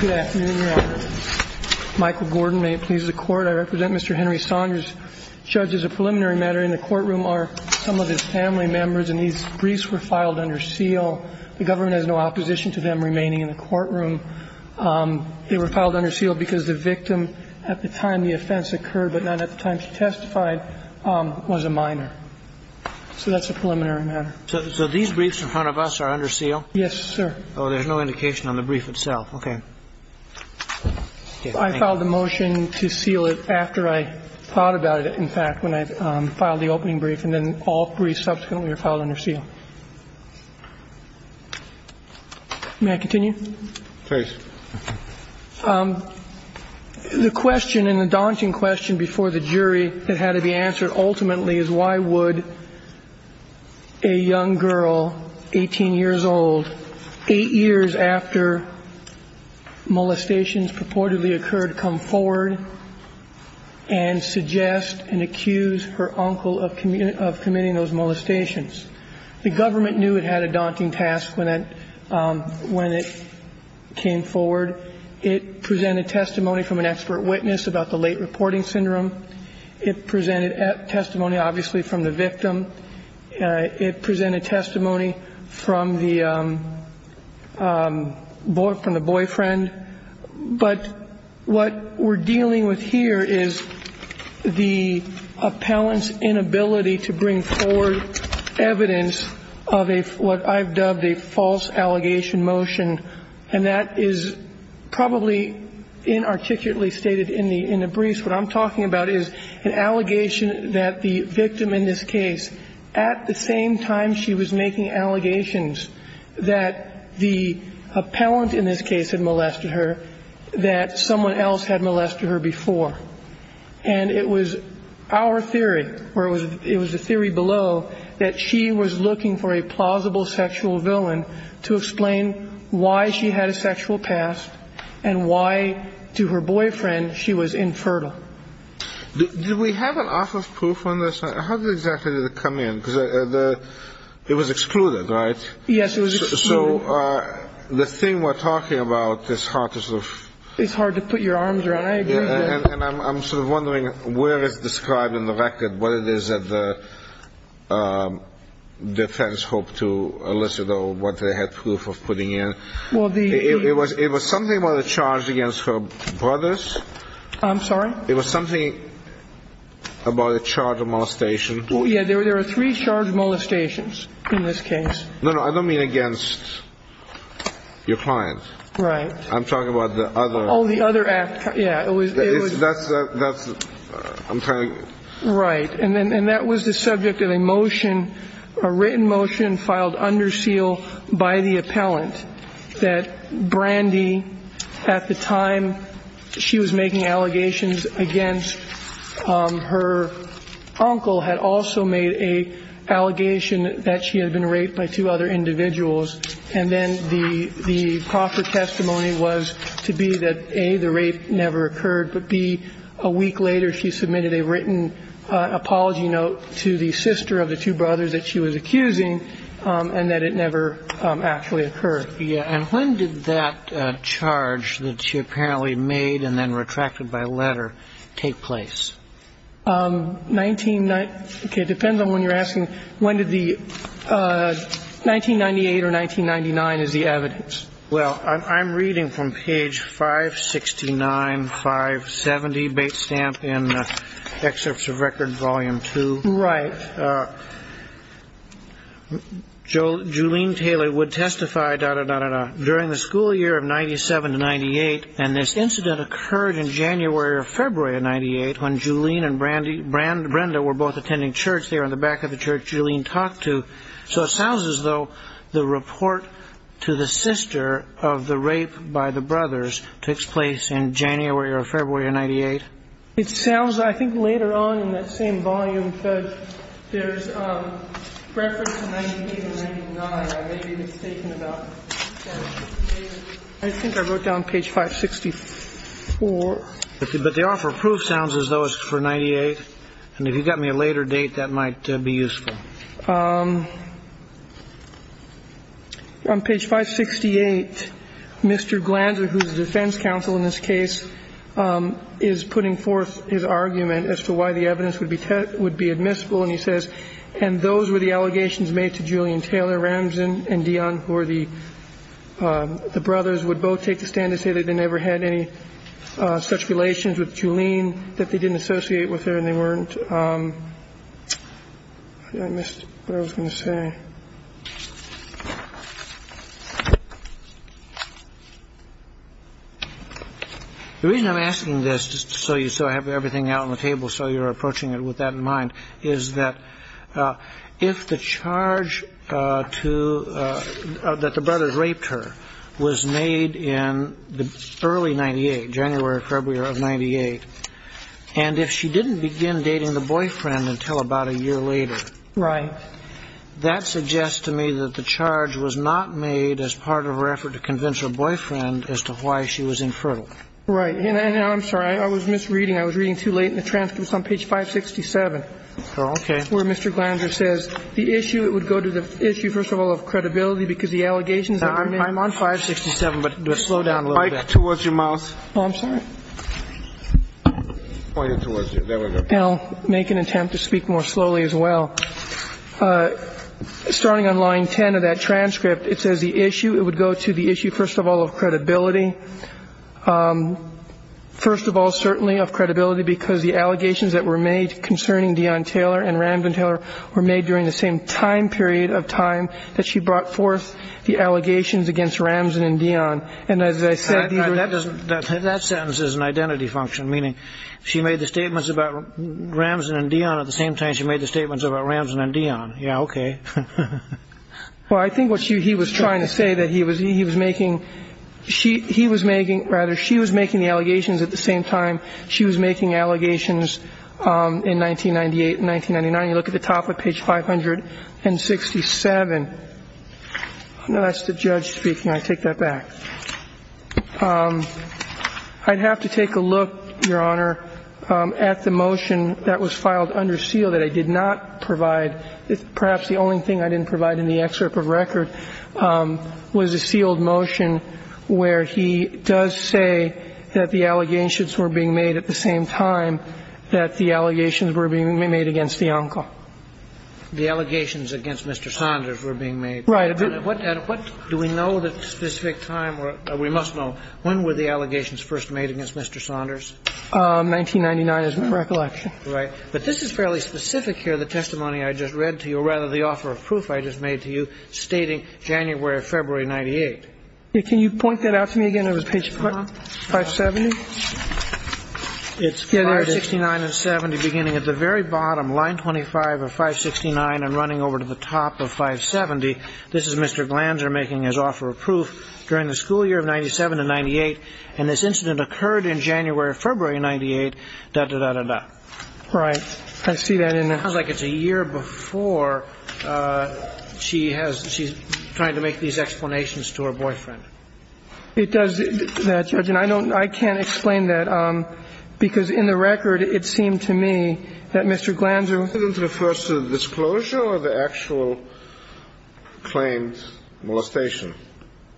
Good afternoon, Your Honor. Michael Gordon, may it please the Court. I represent Mr. Henry Saunders, judge, as a preliminary matter in the courtroom are some of his family members, and these briefs were filed under seal. The government has no opposition to them remaining in the courtroom. They were filed under seal because the victim at the time the offense occurred, but not at the time she testified, was a minor. So that's a preliminary matter. So these briefs in front of us are under seal? Yes, sir. Oh, there's no indication on the brief itself. Okay. I filed a motion to seal it after I thought about it, in fact, when I filed the opening brief, and then all briefs subsequently are filed under seal. May I continue? Please. The question and the daunting question before the jury that had to be answered ultimately is why would a young girl, 18 years old, 8 years after molestations purportedly occurred, come forward and suggest and accuse her uncle of committing those molestations? The government knew it had a daunting task when it came forward. It presented testimony from an expert witness about the late reporting syndrome. It presented testimony, obviously, from the victim. It presented testimony from the boyfriend. But what we're dealing with here is the appellant's inability to bring forward evidence of what I've dubbed a false allegation motion, and that is probably inarticulately stated in the briefs. What I'm talking about is an allegation that the victim in this case, at the same time she was making allegations that the appellant in this case had molested her, that someone else had molested her before. And it was our theory, or it was the theory below, that she was looking for a plausible sexual villain to explain why she had a sexual past and why to her boyfriend she was infertile. Did we have an office proof on this? How exactly did it come in? Because it was excluded, right? Yes, it was excluded. So the thing we're talking about is hard to sort of... It's hard to put your arms around. I agree with that. And I'm sort of wondering where it's described in the record, what it is that the defense hoped to elicit or what they had proof of putting in. Well, the... It was something about a charge against her brothers. I'm sorry? It was something about a charge of molestation. Oh, yeah. There were three charged molestations in this case. No, no. I don't mean against your client. Right. I'm talking about the other... Yeah, it was... That's... I'm trying to... Right. And that was the subject of a motion, a written motion filed under seal by the appellant, that Brandy, at the time she was making allegations against her uncle, had also made an allegation that she had been raped by two other individuals. And then the proper testimony was to be that, A, the rape never occurred, but, B, a week later she submitted a written apology note to the sister of the two brothers that she was accusing and that it never actually occurred. Yeah. And when did that charge that she apparently made and then retracted by letter take place? Okay. It depends on when you're asking when did the... 1998 or 1999 is the evidence. Well, I'm reading from page 569, 570, Bates Stamp, in Excerpts of Record, Volume 2. Right. Jolene Taylor would testify, da-da-da-da-da, during the school year of 97 to 98, and this incident occurred in January or February of 98 when Jolene and Brandy, Brenda were both attending church there in the back of the church Jolene talked to. So it sounds as though the report to the sister of the rape by the brothers takes place in January or February of 98. It sounds, I think, later on in that same volume, Judge, there's reference to 1998 and 99. I may be mistaken about that. I think I wrote down page 564. But the offer of proof sounds as though it's for 98. And if you've got me a later date, that might be useful. On page 568, Mr. Glanzer, who's the defense counsel in this case, is putting forth his argument as to why the evidence would be admissible, and he says, And those were the allegations made to Jolene Taylor. Ramzan and Dion, who are the brothers, would both take the stand and say they never had any such relations with Jolene, that they didn't associate with her and they weren't. I missed what I was going to say. The reason I'm asking this, just so you sort of have everything out on the table, so you're approaching it with that in mind, is that if the charge to the brothers raped her was made in the early 98, January or February of 98, and if she didn't begin dating the boyfriend until about a year later. Right. That suggests to me that the charge was not made as part of her effort to convince her boyfriend as to why she was infertile. Right. And I'm sorry. I was misreading. I was reading too late in the transcript. It's on page 567. Okay. Where Mr. Glanzer says the issue, it would go to the issue, first of all, of credibility, because the allegations that were made. I'm on 567, but slow down a little bit. Point it towards your mouse. Oh, I'm sorry. Point it towards you. There we go. And I'll make an attempt to speak more slowly as well. Starting on line 10 of that transcript, it says the issue, it would go to the issue, first of all, of credibility. First of all, certainly of credibility, because the allegations that were made concerning Dion Taylor and Ramden Taylor were made during the same time period of time that she brought forth the allegations against Ramson and Dion. And as I said. That sentence is an identity function, meaning she made the statements about Ramson and Dion at the same time. She made the statements about Ramson and Dion. Yeah. Okay. Well, I think what he was trying to say that he was making, he was making, rather, she was making the allegations at the same time she was making allegations in 1998 and 1999. You look at the top of page 567. No, that's the judge speaking. I take that back. I'd have to take a look, Your Honor, at the motion that was filed under seal that I did not provide. Perhaps the only thing I didn't provide in the excerpt of record was a sealed motion where he does say that the allegations were being made at the same time that the allegations were being made against the uncle. The allegations against Mr. Saunders were being made. Right. What do we know at the specific time, or we must know, when were the allegations first made against Mr. Saunders? 1999 is my recollection. Right. But this is fairly specific here, the testimony I just read to you, or rather, the offer of proof I just made to you stating January or February 98. Can you point that out to me again on page 570? It's 569 and 70 beginning at the very bottom, line 25 of 569 and running over to the top of 570. This is Mr. Glanzer making his offer of proof during the school year of 97 to 98, and this incident occurred in January or February 98, da, da, da, da, da. Right. I see that in there. It sounds like it's a year before she has – she's trying to make these explanations to her boyfriend. It does that, Judge. And I don't – I can't explain that because in the record it seemed to me that Mr. Glanzer – Does it refer to the disclosure or the actual claimed molestation?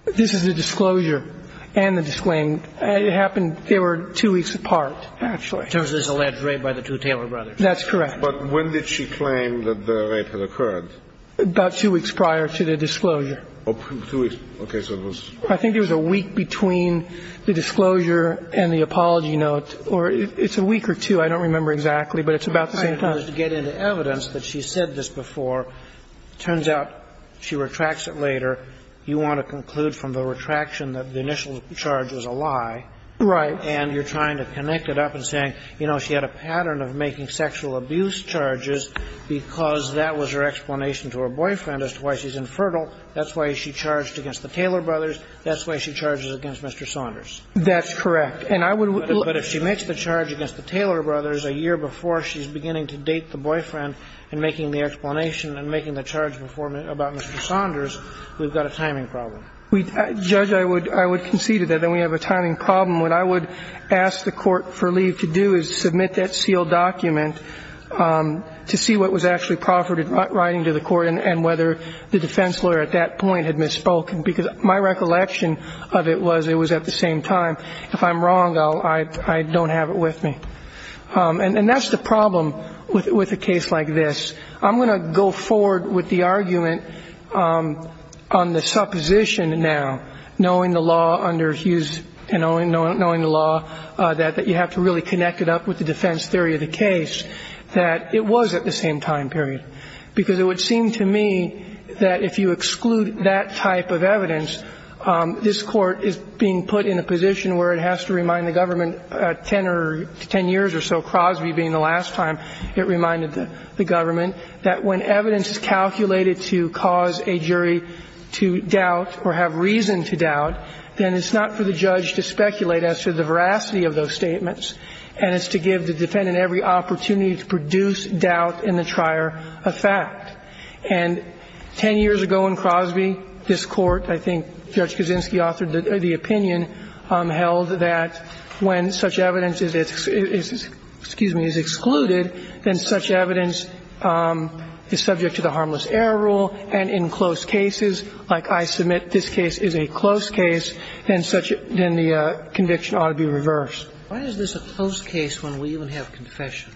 This is the disclosure and the disclaimed. It happened – they were two weeks apart, actually. In terms of this alleged rape by the two Taylor brothers. That's correct. But when did she claim that the rape had occurred? About two weeks prior to the disclosure. Two weeks. Okay. So it was – I think it was a week between the disclosure and the apology note, or it's a week or two. I don't remember exactly, but it's about the same time. To get into evidence that she said this before, it turns out she retracts it later. You want to conclude from the retraction that the initial charge was a lie. Right. And you're trying to connect it up and saying, you know, she had a pattern of making sexual abuse charges because that was her explanation to her boyfriend as to why she's infertile. That's why she charged against the Taylor brothers. That's why she charges against Mr. Saunders. That's correct. And I would – But if she makes the charge against the Taylor brothers a year before she's beginning to date the boyfriend and making the explanation and making the charge before – about Mr. Saunders, we've got a timing problem. Judge, I would concede to that that we have a timing problem. What I would ask the court for leave to do is submit that sealed document to see what was actually proffered in writing to the court and whether the defense lawyer at that point had misspoken, because my recollection of it was it was at the same time. If I'm wrong, I don't have it with me. And that's the problem with a case like this. I'm going to go forward with the argument on the supposition now, knowing the law under Hughes and knowing the law, that you have to really connect it up with the defense theory of the case that it was at the same time period, because it would seem to me that if you exclude that type of evidence, this court is being put in a position where it has to remind the government 10 years or so, Crosby being the last time it reminded the government, that when evidence is calculated to cause a jury to doubt or have reason to doubt, then it's not for the judge to speculate as to the veracity of those statements, and it's to give the defendant every opportunity to produce doubt in the trier of fact. And 10 years ago in Crosby, this Court, I think Judge Kaczynski authored the opinion, held that when such evidence is excluded, then such evidence is subject to the harmless error rule, and in close cases, like I submit this case is a close case, then the conviction ought to be reversed. Why is this a close case when we even have confession?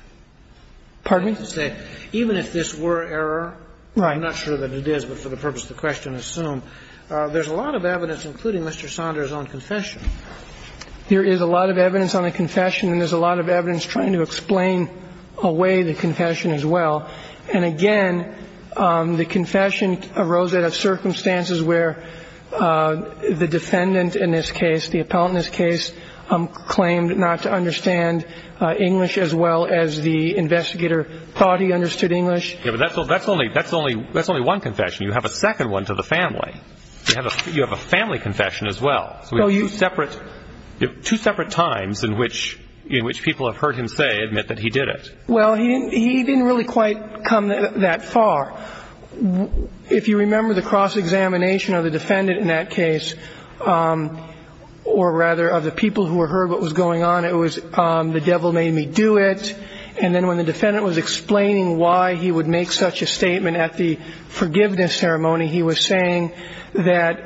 Pardon me? Even if this were error, I'm not sure that it is, but for the purpose of the question there's a lot of evidence, including Mr. Saunders' own confession. There is a lot of evidence on the confession, and there's a lot of evidence trying to explain away the confession as well. And again, the confession arose out of circumstances where the defendant in this case, the appellant in this case, claimed not to understand English as well as the investigator thought he understood English. That's only one confession. You have a second one to the family. You have a family confession as well. So we have two separate times in which people have heard him say, admit that he did it. Well, he didn't really quite come that far. If you remember the cross-examination of the defendant in that case, or rather of the people who heard what was going on, it was the devil made me do it, and then when the defendant would make such a statement at the forgiveness ceremony, he was saying that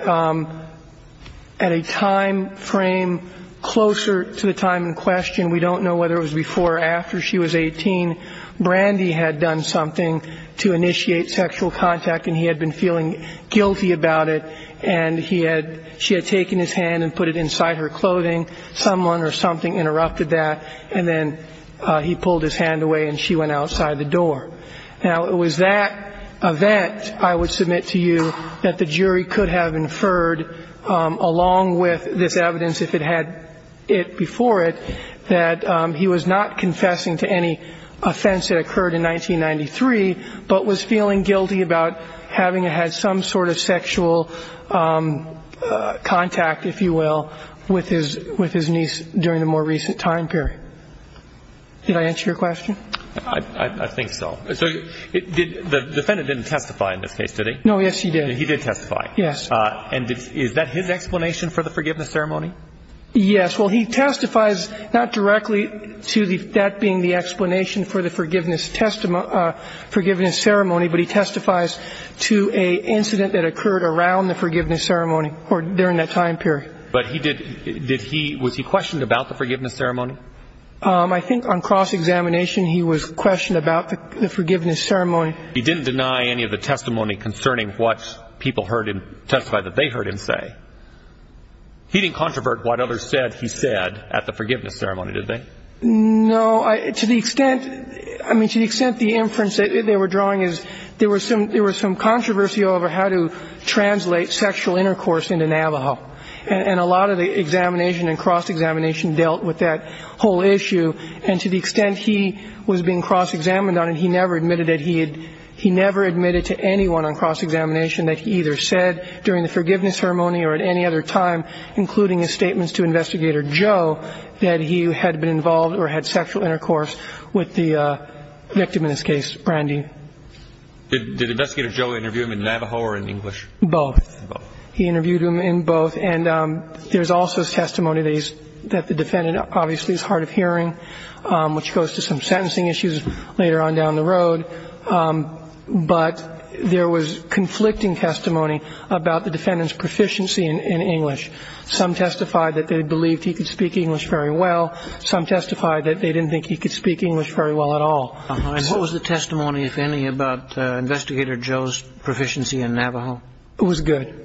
at a time frame closer to the time in question, we don't know whether it was before or after she was 18, Brandy had done something to initiate sexual contact, and he had been feeling guilty about it, and she had taken his hand and put it inside her clothing. Someone or something interrupted that, and then he pulled his hand away, and she went outside the door. Now, it was that event, I would submit to you, that the jury could have inferred, along with this evidence if it had it before it, that he was not confessing to any offense that occurred in 1993, but was feeling guilty about having had some sort of sexual contact, if you will, with his niece during the more recent time period. Did I answer your question? I think so. So the defendant didn't testify in this case, did he? No, yes, he did. He did testify. Yes. And is that his explanation for the forgiveness ceremony? Yes. Well, he testifies not directly to that being the explanation for the forgiveness ceremony, but he testifies to an incident that occurred around the forgiveness ceremony, or during that time period. But was he questioned about the forgiveness ceremony? I think on cross-examination he was questioned about the forgiveness ceremony. He didn't deny any of the testimony concerning what people heard him testify that they heard him say. He didn't controvert what others said he said at the forgiveness ceremony, did they? No. To the extent, I mean, to the extent the inference they were drawing is there was some controversy over how to translate sexual intercourse into Navajo, and a whole issue. And to the extent he was being cross-examined on it, he never admitted it. He never admitted to anyone on cross-examination that he either said during the forgiveness ceremony or at any other time, including his statements to Investigator Joe, that he had been involved or had sexual intercourse with the victim in this case, Brandy. Did Investigator Joe interview him in Navajo or in English? Both. Both. He interviewed him in both. And there's also testimony that the defendant obviously is hard of hearing, which goes to some sentencing issues later on down the road. But there was conflicting testimony about the defendant's proficiency in English. Some testified that they believed he could speak English very well. Some testified that they didn't think he could speak English very well at all. And what was the testimony, if any, about Investigator Joe's proficiency in Navajo? It was good.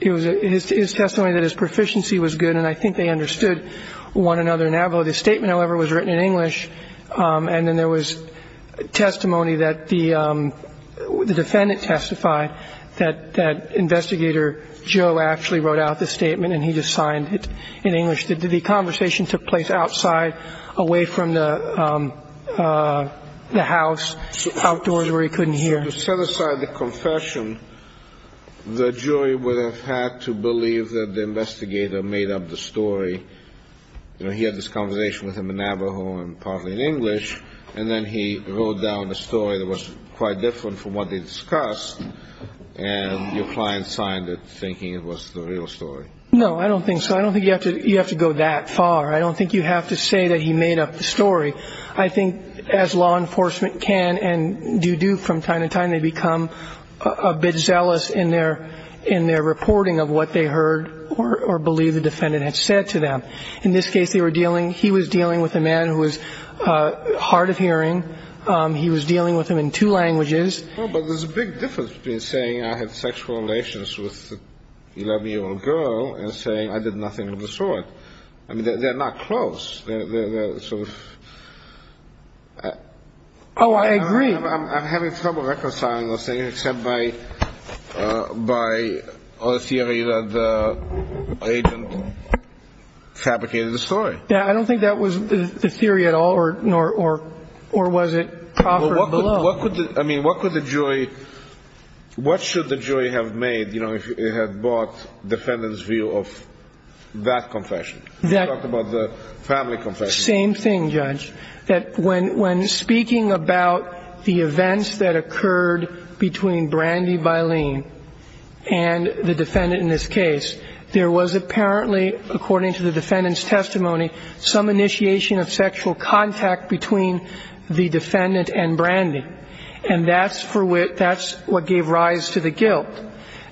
His testimony that his proficiency was good, and I think they understood one another in Navajo. The statement, however, was written in English. And then there was testimony that the defendant testified that Investigator Joe actually wrote out the statement, and he just signed it in English. The conversation took place outside, away from the house, outdoors where he couldn't hear. To set aside the confession, the jury would have had to believe that the investigator made up the story. You know, he had this conversation with him in Navajo and partly in English, and then he wrote down a story that was quite different from what they discussed, and your client signed it thinking it was the real story. No, I don't think so. I don't think you have to go that far. I don't think you have to say that he made up the story. I think as law enforcement can and do do from time to time, they become a bit zealous in their reporting of what they heard or believe the defendant had said to them. In this case, he was dealing with a man who was hard of hearing. He was dealing with him in two languages. Well, but there's a big difference between saying I had sexual relations with an 11-year-old girl and saying I did nothing of the sort. I mean, they're not close. Oh, I agree. I'm having trouble reconciling the thing except by the theory that the agent fabricated the story. Yeah, I don't think that was the theory at all, or was it proffered below? I mean, what could the jury – what should the jury have made, you know, if it had bought the defendant's view of that confession? You talked about the family confession. Same thing, Judge, that when speaking about the events that occurred between Brandy Bilene and the defendant in this case, there was apparently, according to the defendant's testimony, some initiation of sexual contact between the defendant and Brandy. And that's what gave rise to the guilt.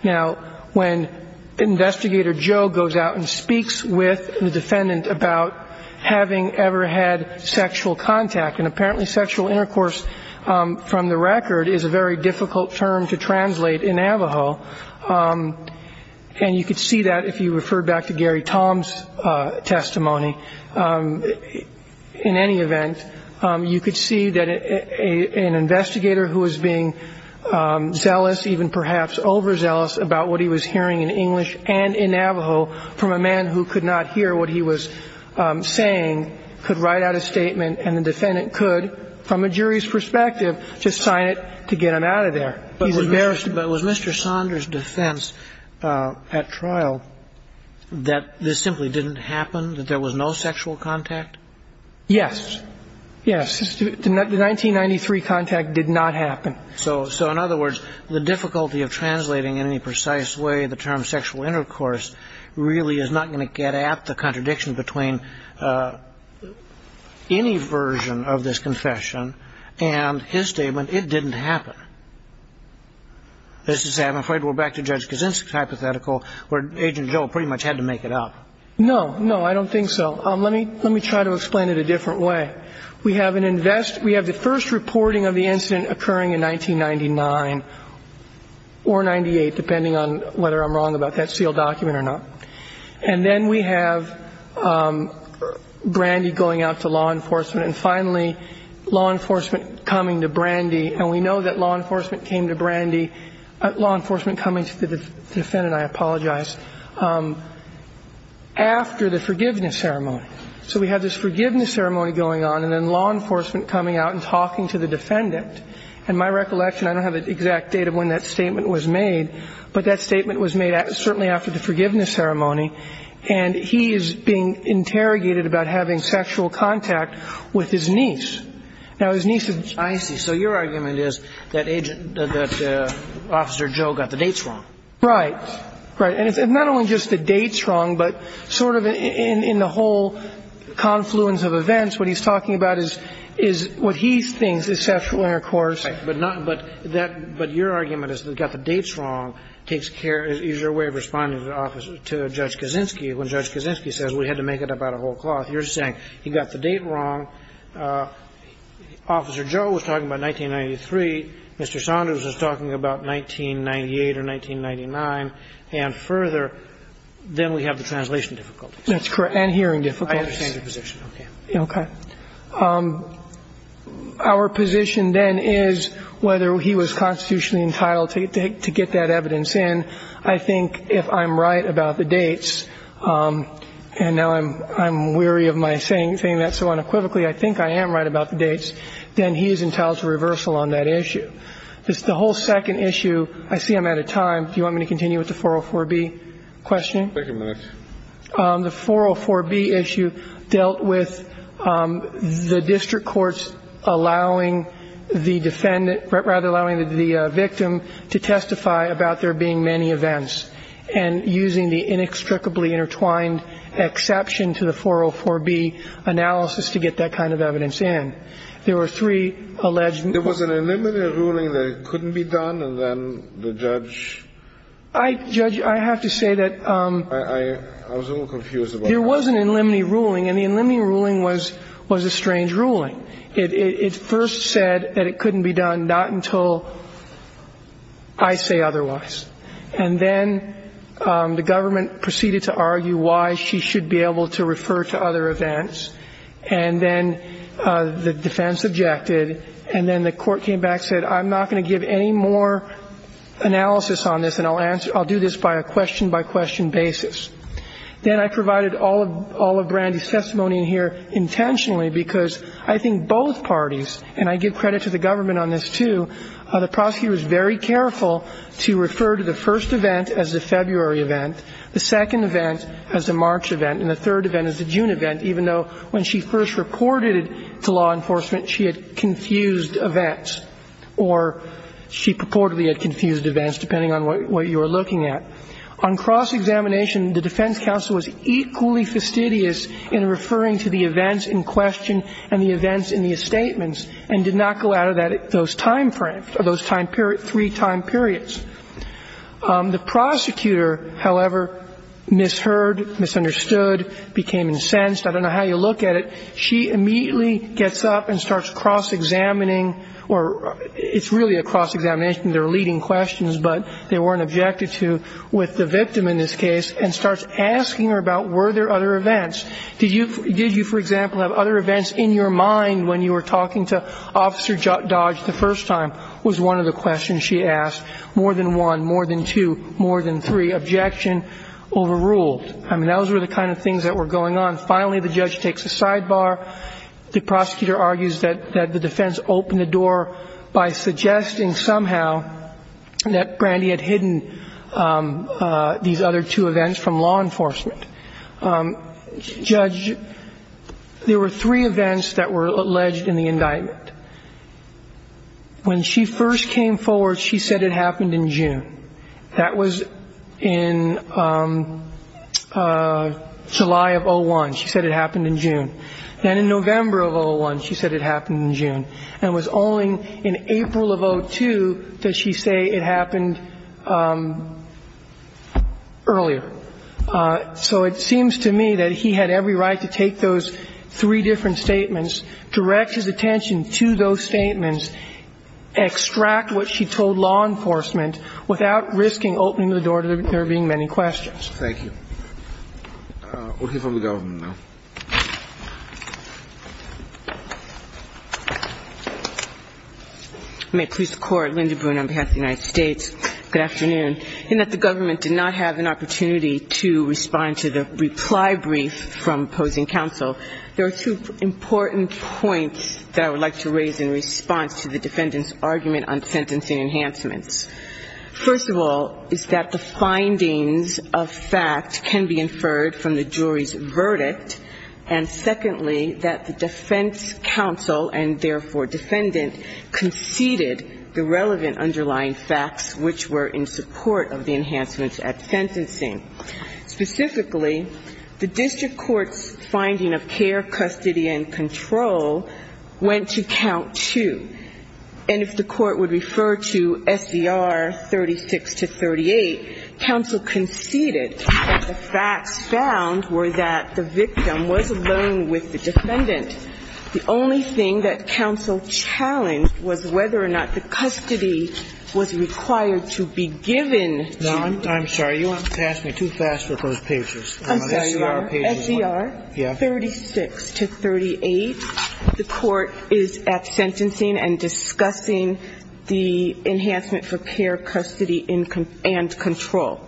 Now, when Investigator Joe goes out and speaks with the defendant about having ever had sexual contact, and apparently sexual intercourse from the record is a very difficult term to translate in Avaho, and you could see that if you referred back to Gary Tom's testimony. In any event, you could see that an investigator who was being zealous, even perhaps overzealous about what he was hearing in English and in Navajo from a man who could not hear what he was saying could write out a statement, and the defendant could, from a jury's perspective, just sign it to get him out of there. But was Mr. Saunders' defense at trial that this simply didn't happen, that there was no sexual contact? Yes. Yes. The 1993 contact did not happen. So, in other words, the difficulty of translating in any precise way the term sexual intercourse really is not going to get at the contradiction between any version of this confession and his statement, it didn't happen. This is, I'm afraid, we're back to Judge Kaczynski's hypothetical, where Agent Joe pretty much had to make it up. No. No, I don't think so. Let me try to explain it a different way. We have the first reporting of the incident occurring in 1999 or 98, depending on whether I'm wrong about that sealed document or not. And then we have Brandy going out to law enforcement. And finally, law enforcement coming to Brandy. And we know that law enforcement came to Brandy. Law enforcement coming to the defendant, I apologize, after the forgiveness ceremony. So we have this forgiveness ceremony going on, and then law enforcement coming out and talking to the defendant. And my recollection, I don't have an exact date of when that statement was made, but that statement was made certainly after the forgiveness ceremony. And he is being interrogated about having sexual contact with his niece. Now, his niece is – And so your argument is that Agent – that Officer Joe got the dates wrong. Right. Right. And it's not only just the dates wrong, but sort of in the whole confluence of events, what he's talking about is what he thinks is sexual intercourse. Right. But not – but that – but your argument is that got the dates wrong takes care – is your way of responding to Judge Kaczynski when Judge Kaczynski says we had to make it up out of whole cloth. You're saying he got the date wrong. Officer Joe was talking about 1993. Mr. Saunders was talking about 1998 or 1999. And further, then we have the translation difficulties. That's correct. And hearing difficulties. I understand your position. Okay. Okay. Our position then is whether he was constitutionally entitled to get that evidence in. I think if I'm right about the dates, and now I'm weary of my saying that so unequivocally, I think I am right about the dates, then he is entitled to reversal on that issue. The whole second issue – I see I'm out of time. Do you want me to continue with the 404B question? Take a minute. The 404B issue dealt with the district courts allowing the defendant – rather, allowing the victim to testify about there being many events and using the inextricably intertwined exception to the 404B analysis to get that kind of evidence in. There were three alleged – There was an in limine ruling that it couldn't be done, and then the judge – Judge, I have to say that – I was a little confused about that. There was an in limine ruling, and the in limine ruling was a strange ruling. It first said that it couldn't be done, not until I say otherwise. And then the government proceeded to argue why she should be able to refer to other events, and then the defense objected, and then the court came back and said, I'm not going to give any more analysis on this, and I'll do this by a question-by-question basis. Then I provided all of Brandy's testimony here intentionally because I think both parties – and I give credit to the government on this, too – the prosecutor was very careful to refer to the first event as the February event, the second event as the March event, and the third event as the June event, even though when she first reported it to law enforcement, she had confused events, or she purportedly had confused events, depending on what you were looking at. On cross-examination, the defense counsel was equally fastidious in referring to the events in question and the events in the statements, and did not go out of that – those timeframes or those three time periods. The prosecutor, however, misheard, misunderstood, became incensed. I don't know how you look at it. She immediately gets up and starts cross-examining, or it's really a cross-examination. They're leading questions, but they weren't objected to with the victim in this case, and starts asking her about were there other events. Did you, for example, have other events in your mind when you were talking to Officer Dodge the first time was one of the questions she asked. More than one, more than two, more than three. Objection. Overruled. I mean, those were the kind of things that were going on. Finally, the judge takes a sidebar. The prosecutor argues that the defense opened the door by suggesting somehow that Brandy had hidden these other two events from law enforcement. Judge, there were three events that were alleged in the indictment. When she first came forward, she said it happened in June. That was in July of 2001. She said it happened in June. Then in November of 2001, she said it happened in June. And it was only in April of 2002 that she say it happened earlier. So it seems to me that he had every right to take those three different statements, direct his attention to those statements, extract what she told law enforcement, without risking opening the door to there being many questions. Thank you. We'll hear from the government now. May it please the Court. Linda Boone on behalf of the United States. Good afternoon. In that the government did not have an opportunity to respond to the reply brief from opposing counsel, there are two important points that I would like to raise in response to the defendant's argument on sentencing enhancements. First of all is that the findings of fact can be inferred from the jury's verdict and, secondly, that the defense counsel and, therefore, defendant conceded the relevant underlying facts which were in support of the enhancements at sentencing. Specifically, the district court's finding of care, custody, and control went to count two. And if the court would refer to SDR 36 to 38, counsel conceded that the facts found were that the victim, the victim was alone with the defendant. The only thing that counsel challenged was whether or not the custody was required to be given. No, I'm sorry. You asked me too fast for those pages. I'm sorry. SDR 36 to 38, the court is at sentencing and discussing the enhancement for care, custody, and control.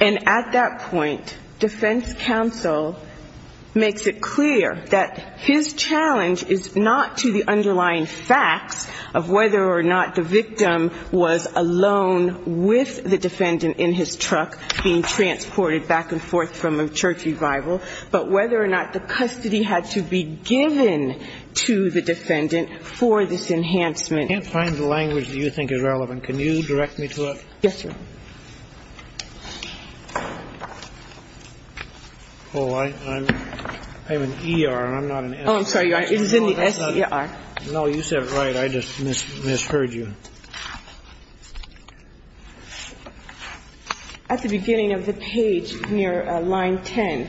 And at that point, defense counsel makes it clear that his challenge is not to the underlying facts of whether or not the victim was alone with the defendant in his truck being transported back and forth from a church revival, but whether or not the custody had to be given to the defendant for this enhancement. I can't find the language that you think is relevant. Can you direct me to it? Yes, sir. Thank you. Oh, I'm an ER. I'm not an SDR. Oh, I'm sorry. It was in the SDR. No, you said it right. I just misheard you. At the beginning of the page near line 10,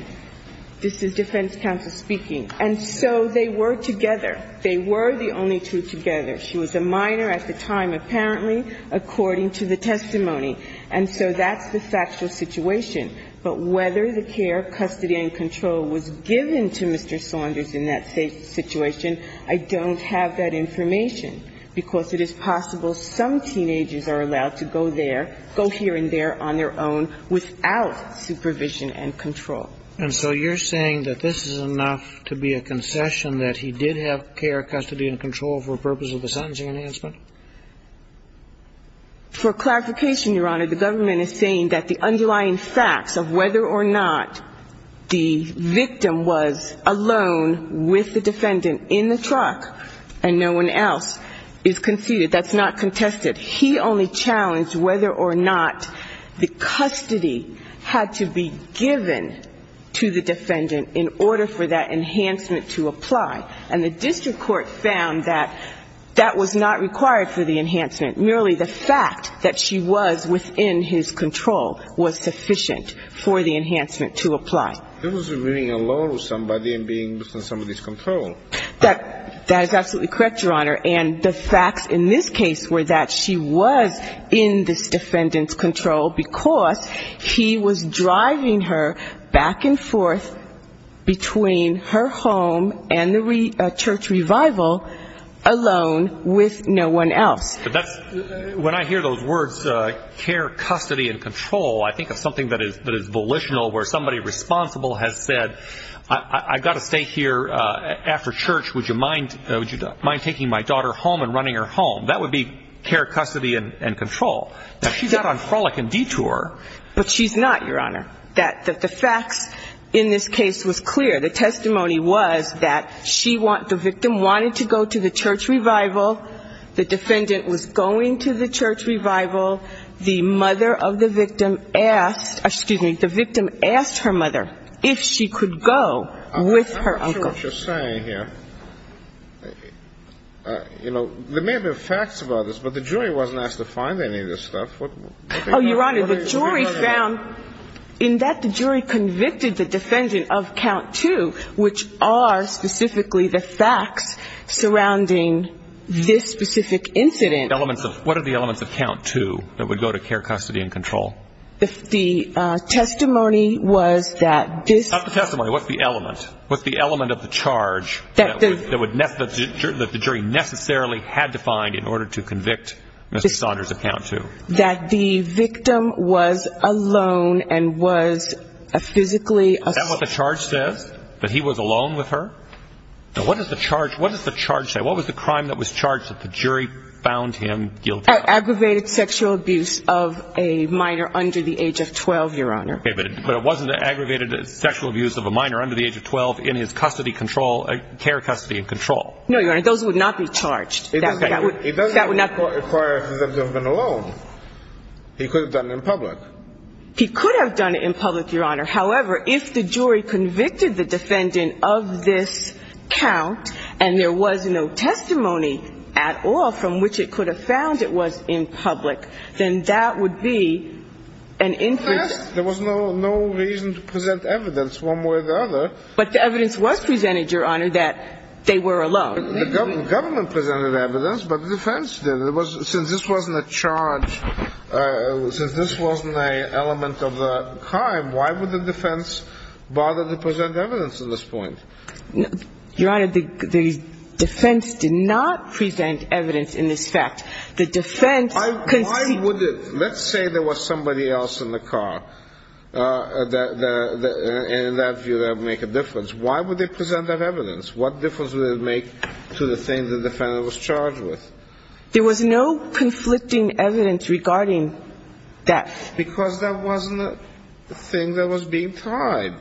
this is defense counsel speaking. And so they were together. They were the only two together. And so they were the only two together. She was a minor at the time, apparently, according to the testimony. And so that's the factual situation. But whether the care, custody, and control was given to Mr. Saunders in that situation, I don't have that information, because it is possible some teenagers are allowed to go there, go here and there on their own without supervision and control. And so you're saying that this is enough to be a concession, that he did have care, custody, and control for the purpose of the sentencing enhancement? For clarification, Your Honor, the government is saying that the underlying facts of whether or not the victim was alone with the defendant in the truck and no one else is conceded, that's not contested. He only challenged whether or not the custody had to be given to the defendant in order for that enhancement to apply. And the district court found that that was not required for the enhancement. Merely the fact that she was within his control was sufficient for the enhancement to apply. He wasn't being alone with somebody and being within somebody's control. That is absolutely correct, Your Honor. And the facts in this case were that she was in this defendant's control because he was driving her back and forth between her home and the church revival alone with no one else. When I hear those words care, custody, and control, I think of something that is volitional where somebody responsible has said, I've got to stay here after church. Would you mind taking my daughter home and running her home? That would be care, custody, and control. Now, she's out on frolic and detour. But she's not, Your Honor. That the facts in this case was clear. The testimony was that the victim wanted to go to the church revival. The defendant was going to the church revival. The mother of the victim asked her mother if she could go with her uncle. I'm not sure what you're saying here. You know, there may have been facts about this, but the jury wasn't asked to find any of this stuff. Oh, Your Honor, the jury found in that the jury convicted the defendant of count two, which are specifically the facts surrounding this specific incident. What are the elements of count two that would go to care, custody, and control? The testimony was that this – Not the testimony. What's the element? What's the element of the charge that the jury necessarily had to find in order to convict Mr. Saunders of count two? That the victim was alone and was physically – Is that what the charge says, that he was alone with her? What does the charge say? What was the crime that was charged that the jury found him guilty of? Aggravated sexual abuse of a minor under the age of 12, Your Honor. Okay, but it wasn't aggravated sexual abuse of a minor under the age of 12 in his care, custody, and control. No, Your Honor, those would not be charged. That would not require him to have been alone. He could have done it in public. He could have done it in public, Your Honor. However, if the jury convicted the defendant of this count, and there was no testimony at all from which it could have found it was in public, then that would be an – There was no reason to present evidence one way or the other. But the evidence was presented, Your Honor, that they were alone. The government presented evidence, but the defense didn't. Since this wasn't a charge, since this wasn't an element of the crime, why would the defense bother to present evidence at this point? Your Honor, the defense did not present evidence in this fact. The defense – Why would it? Let's say there was somebody else in the car. In that view, that would make a difference. Why would they present that evidence? What difference would it make to the thing the defendant was charged with? There was no conflicting evidence regarding that. Because that wasn't the thing that was being tried.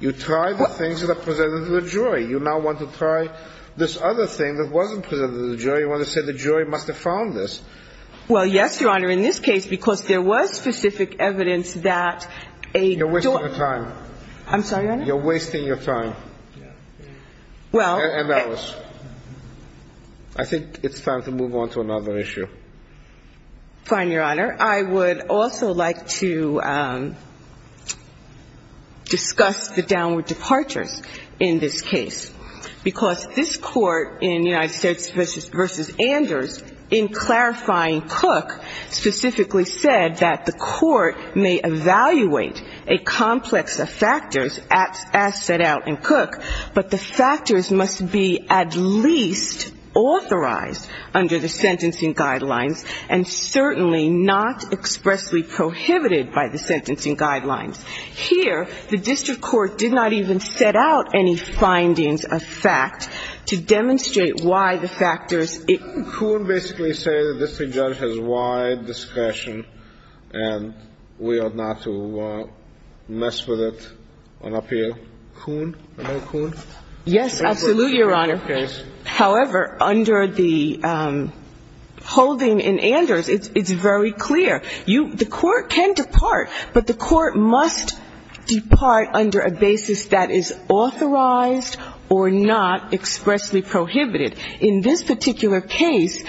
You tried the things that are presented to the jury. You now want to try this other thing that wasn't presented to the jury. You want to say the jury must have found this. Well, yes, Your Honor, in this case, because there was specific evidence that a – You're wasting your time. I'm sorry, Your Honor? You're wasting your time. Well – And that was – I think it's time to move on to another issue. Fine, Your Honor. I would also like to discuss the downward departures in this case, because this Court in United States v. Anders, in clarifying Cook, specifically said that the Court may evaluate a complex of factors as set out in Cook, but the factors must be at least authorized under the sentencing guidelines and certainly not expressly prohibited by the sentencing guidelines. Here, the district court did not even set out any findings of fact to demonstrate why the factors – Couldn't Coon basically say the district judge has wide discretion and we ought not to mess with it on appeal? Coon? I know Coon. Yes, absolutely, Your Honor. However, under the holding in Anders, it's very clear. You – the Court can depart, but the Court must depart under a basis that is authorized or not expressly prohibited. In this particular case,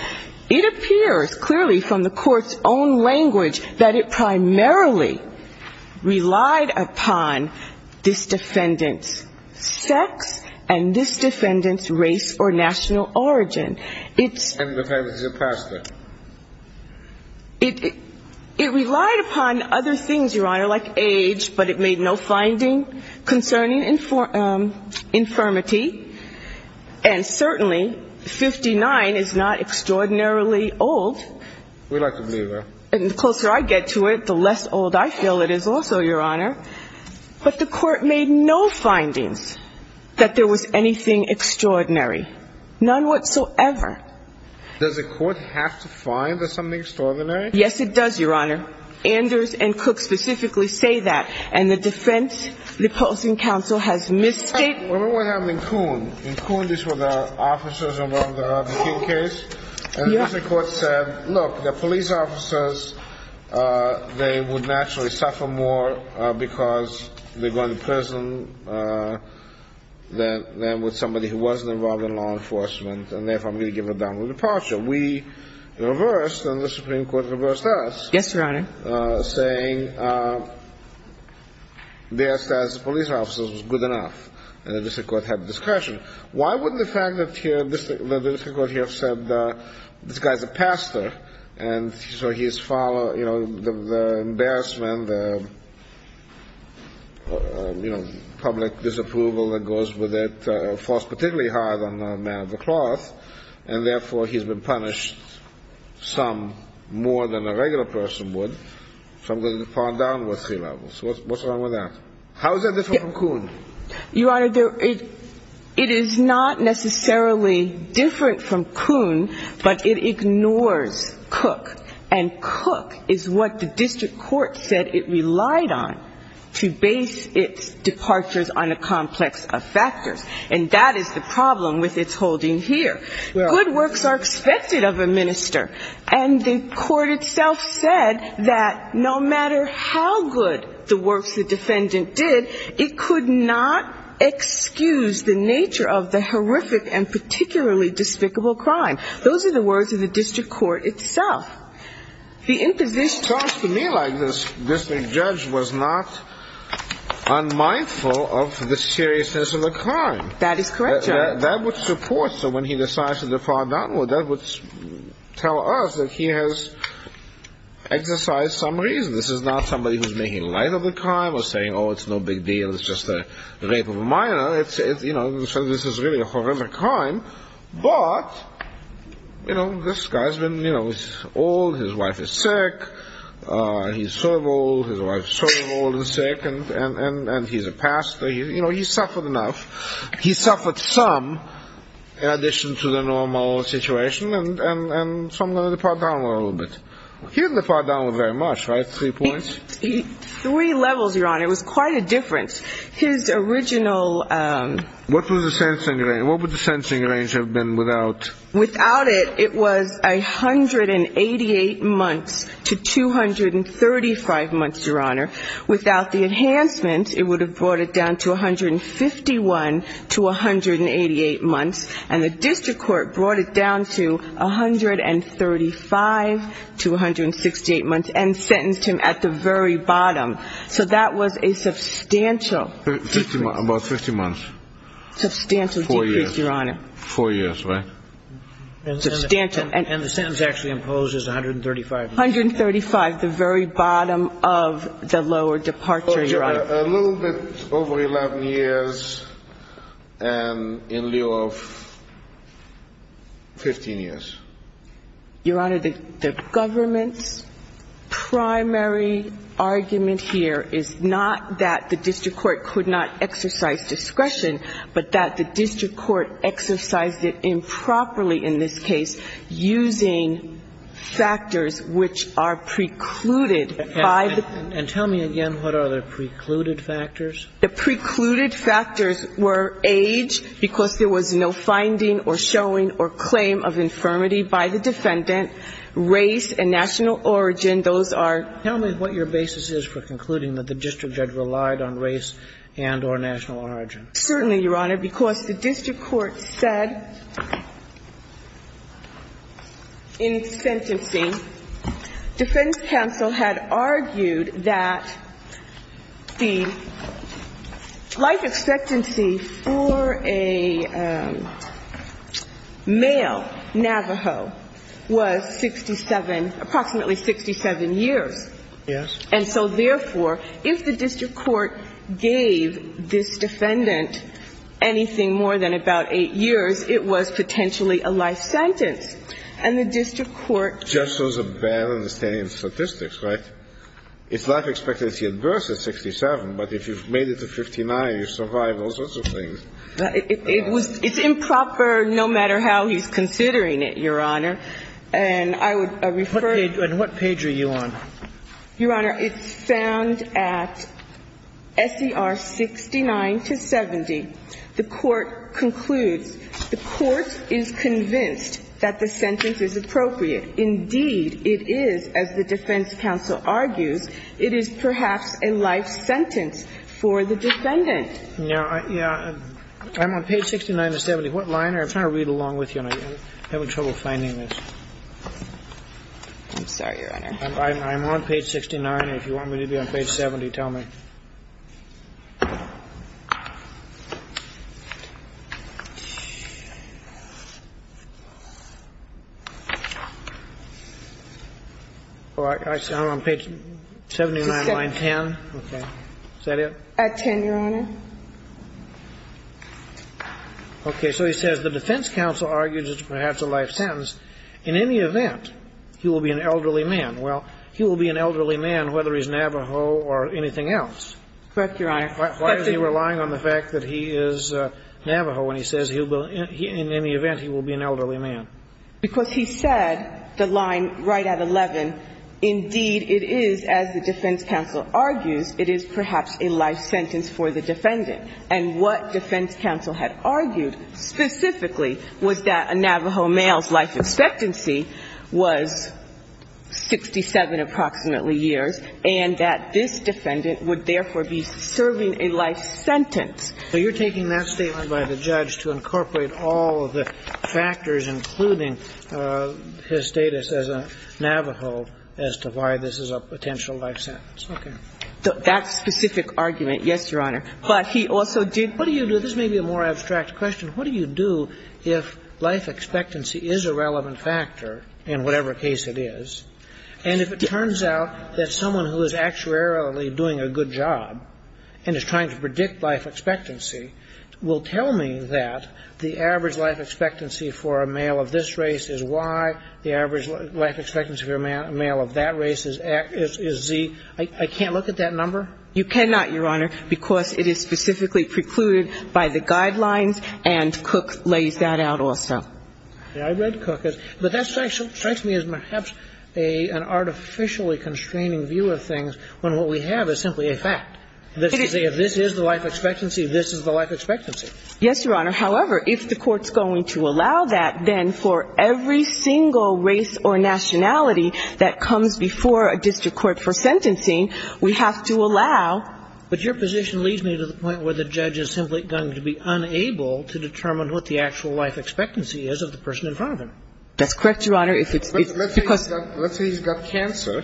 it appears clearly from the Court's own language that it primarily relied upon this defendant's sex and this defendant's race or national origin. And the defendant is a pastor. It relied upon other things, Your Honor, like age, but it made no finding concerning infirmity. And certainly, 59 is not extraordinarily old. We like to believe that. And the closer I get to it, the less old I feel it is also, Your Honor. But the Court made no findings that there was anything extraordinary, none whatsoever. Does the Court have to find there's something extraordinary? Yes, it does, Your Honor. Anders and Cook specifically say that. And the defense, the opposing counsel has misstated – Remember what happened in Kuhn. In Kuhn, these were the officers involved in the Kuhn case. And the Supreme Court said, look, the police officers, they would naturally suffer more because they're going to prison than with somebody who wasn't involved in law enforcement, and therefore, I'm going to give a downward departure. We reversed, and the Supreme Court reversed us. Yes, Your Honor. saying their status as police officers was good enough, and the district court had discretion. Why wouldn't the fact that the district court here said this guy's a pastor, and so his father, you know, the embarrassment, the, you know, public disapproval that goes with it falls particularly hard on a man of the cloth, and therefore, he's been punished some more than a regular person would. So I'm going to fall down with three levels. What's wrong with that? How is that different from Kuhn? Your Honor, it is not necessarily different from Kuhn, but it ignores Cook. And Cook is what the district court said it relied on to base its departures on a complex of factors, and that is the problem with its holding here. Good works are expected of a minister, and the court itself said that no matter how good the works the defendant did, it could not excuse the nature of the horrific and particularly despicable crime. Those are the words of the district court itself. The imposition of this. It sounds to me like this district judge was not unmindful of the seriousness of the crime. That is correct, Your Honor. That would support him when he decides to defraud. That would tell us that he has exercised some reason. This is not somebody who's making light of the crime or saying, oh, it's no big deal. It's just a rape of a minor. This is really a horrific crime. But, you know, this guy's been, you know, old. His wife is sick. He's so old. His wife's so old and sick, and he's a pastor. You know, he's suffered enough. He suffered some, in addition to the normal situation, and some of the part down a little bit. He didn't depart down very much, right? Three points? Three levels, Your Honor. It was quite a difference. His original. What was the sensing range? What would the sensing range have been without? Without it, it was 188 months to 235 months, Your Honor. Without the enhancement, it would have brought it down to 151 to 188 months. And the district court brought it down to 135 to 168 months and sentenced him at the very bottom. So that was a substantial difference. About 50 months. Substantial difference, Your Honor. Four years. Four years, right? And the sentence actually imposed is 135 months. 135, the very bottom of the lower departure, Your Honor. A little bit over 11 years and in lieu of 15 years. Your Honor, the government's primary argument here is not that the district court could not exercise discretion, but that the district court exercised it improperly in this case using factors which are precluded by the ---- And tell me again what are the precluded factors? The precluded factors were age, because there was no finding or showing or claim of infirmity by the defendant, race and national origin. Those are ---- Tell me what your basis is for concluding that the district judge relied on race and or national origin. Certainly, Your Honor, because the district court said in sentencing, defense counsel had argued that the life expectancy for a male, Navajo, was 67, approximately 67 years. Yes. And so, therefore, if the district court gave this defendant anything more than about 8 years, it was potentially a life sentence. And the district court ---- Just shows a bad understanding of statistics, right? It's life expectancy at birth is 67, but if you've made it to 59, you survive all sorts of things. It's improper no matter how he's considering it, Your Honor. And I would refer ---- And what page are you on? Your Honor, it's found at S.E.R. 69 to 70. The court concludes, the court is convinced that the sentence is appropriate. Indeed, it is, as the defense counsel argues, it is perhaps a life sentence for the defendant. Yeah. I'm on page 69 to 70. What line are you on? I'm trying to read along with you, and I'm having trouble finding this. I'm sorry, Your Honor. I'm on page 69. If you want me to be on page 70, tell me. I'm on page 79, line 10. Is that it? At 10, Your Honor. Okay. So he says the defense counsel argues it's perhaps a life sentence. In any event, he will be an elderly man. Well, he will be an elderly man whether he's Navajo or anything else. Correct, Your Honor. Why is he relying on the fact that he is Navajo when he says in any event he will be an elderly man? Because he said the line right at 11, indeed, it is, as the defense counsel argues, it is perhaps a life sentence for the defendant. And what defense counsel had argued specifically was that a Navajo male's life expectancy was 67 approximately years, and that this defendant would therefore be serving a life sentence. So you're taking that statement by the judge to incorporate all of the factors, including his status as a Navajo, as to why this is a potential life sentence. Okay. That specific argument, yes, Your Honor. But he also did – What do you do? This may be a more abstract question. What do you do if life expectancy is a relevant factor in whatever case it is, and if it turns out that someone who is actuarially doing a good job and is trying to predict life expectancy will tell me that the average life expectancy for a male of this race is Y, the average life expectancy for a male of that race is Z? I can't look at that number? You cannot, Your Honor, because it is specifically precluded by the guidelines, and Cook lays that out also. I read Cook. But that strikes me as perhaps an artificially constraining view of things when what we have is simply a fact. If this is the life expectancy, this is the life expectancy. Yes, Your Honor. However, if the Court's going to allow that, then for every single race or nationality that comes before a district court for sentencing, we have to allow – But your position leads me to the point where the judge is simply going to be unable to determine what the actual life expectancy is of the person in front of him. That's correct, Your Honor. It's because – Let's say he's got cancer,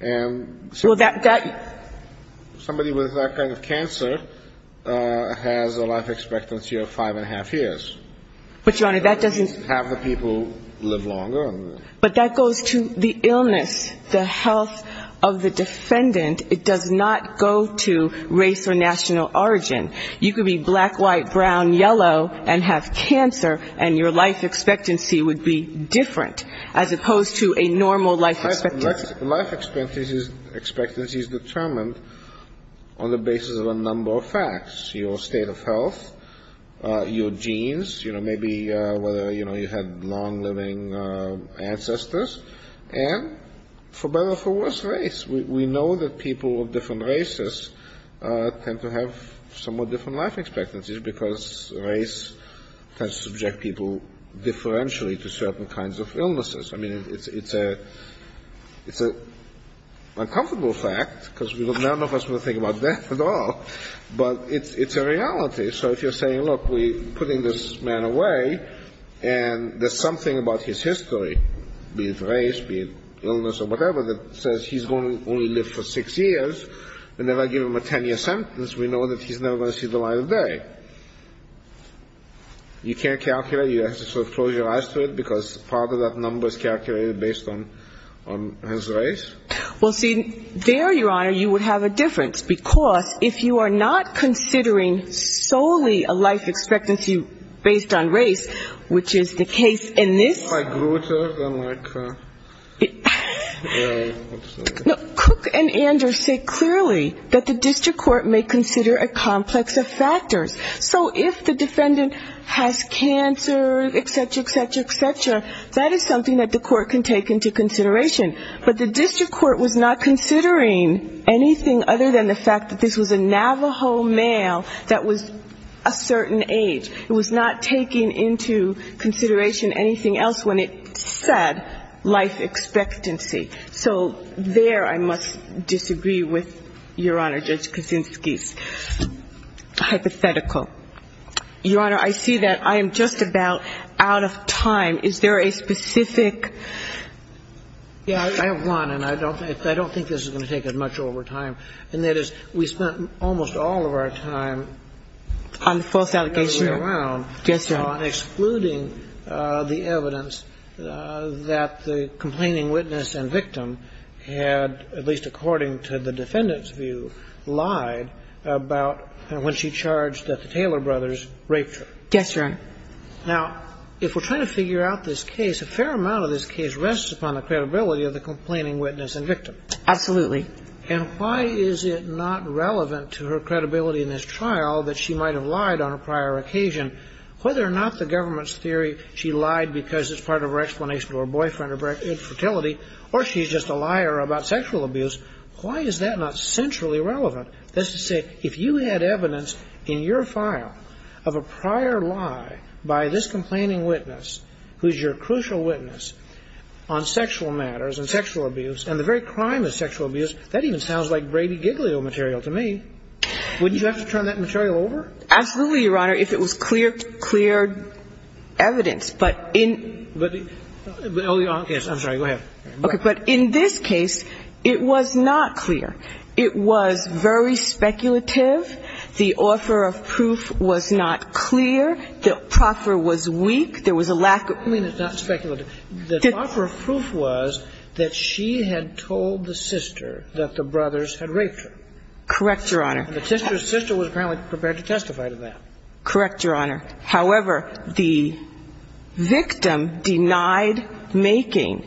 and – Well, that – Somebody with that kind of cancer has a life expectancy of five and a half years. But, Your Honor, that doesn't – Half the people live longer. But that goes to the illness, the health of the defendant. It does not go to race or national origin. You could be black, white, brown, yellow, and have cancer, and your life expectancy would be different, as opposed to a normal life expectancy. Life expectancy is determined on the basis of a number of facts, your state of health, your genes, you know, maybe whether, you know, you had long-living ancestors, and for better or for worse, race. We know that people of different races tend to have somewhat different life expectancies because race tends to subject people differentially to certain kinds of illnesses. I mean, it's an uncomfortable fact because none of us will think about death at all, but it's a reality. So if you're saying, look, we're putting this man away, and there's something about his history, be it race, be it illness or whatever, that says he's going to only live for six years and never give him a 10-year sentence, we know that he's never going to see the light of day. You can't calculate. You have to sort of close your eyes to it because part of that number is calculated based on his race. Well, see, there, Your Honor, you would have a difference, because if you are not considering solely a life expectancy based on race, which is the case in this. Cook and Anders say clearly that the district court may consider a complex of factors. So if the defendant has cancer, et cetera, et cetera, et cetera, that is something that the court can take into consideration. But the district court was not considering anything other than the fact that this was a Navajo male that was a certain age. It was not taking into consideration anything else when it said life expectancy. So there I must disagree with Your Honor, Judge Kaczynski's hypothetical. Your Honor, I see that I am just about out of time. Is there a specific? Yeah, I have one, and I don't think this is going to take as much over time. And that is we spent almost all of our time on the other way around. On the false allegation. Yes, Your Honor. On excluding the evidence that the complaining witness and victim had, at least according to the defendant's view, lied about when she charged that the Taylor brothers raped her. Yes, Your Honor. Now, if we're trying to figure out this case, a fair amount of this case rests upon the credibility of the complaining witness and victim. Absolutely. And why is it not relevant to her credibility in this trial that she might have lied on a prior occasion? Whether or not the government's theory she lied because it's part of her explanation to her boyfriend or infertility, or she's just a liar about sexual abuse, why is that not centrally relevant? That's to say, if you had evidence in your file of a prior lie by this complaining witness, who's your crucial witness on sexual matters and sexual abuse, and the very crime of sexual abuse, that even sounds like Brady Giglio material to me. Wouldn't you have to turn that material over? Absolutely, Your Honor, if it was clear evidence. But in this case, it was not clear. It was very speculative. The offer of proof was not clear. The proffer was weak. There was a lack of proof. You mean it's not speculative. The offer of proof was that she had told the sister that the brothers had raped her. Correct, Your Honor. And the sister was apparently prepared to testify to that. Correct, Your Honor. However, the victim denied making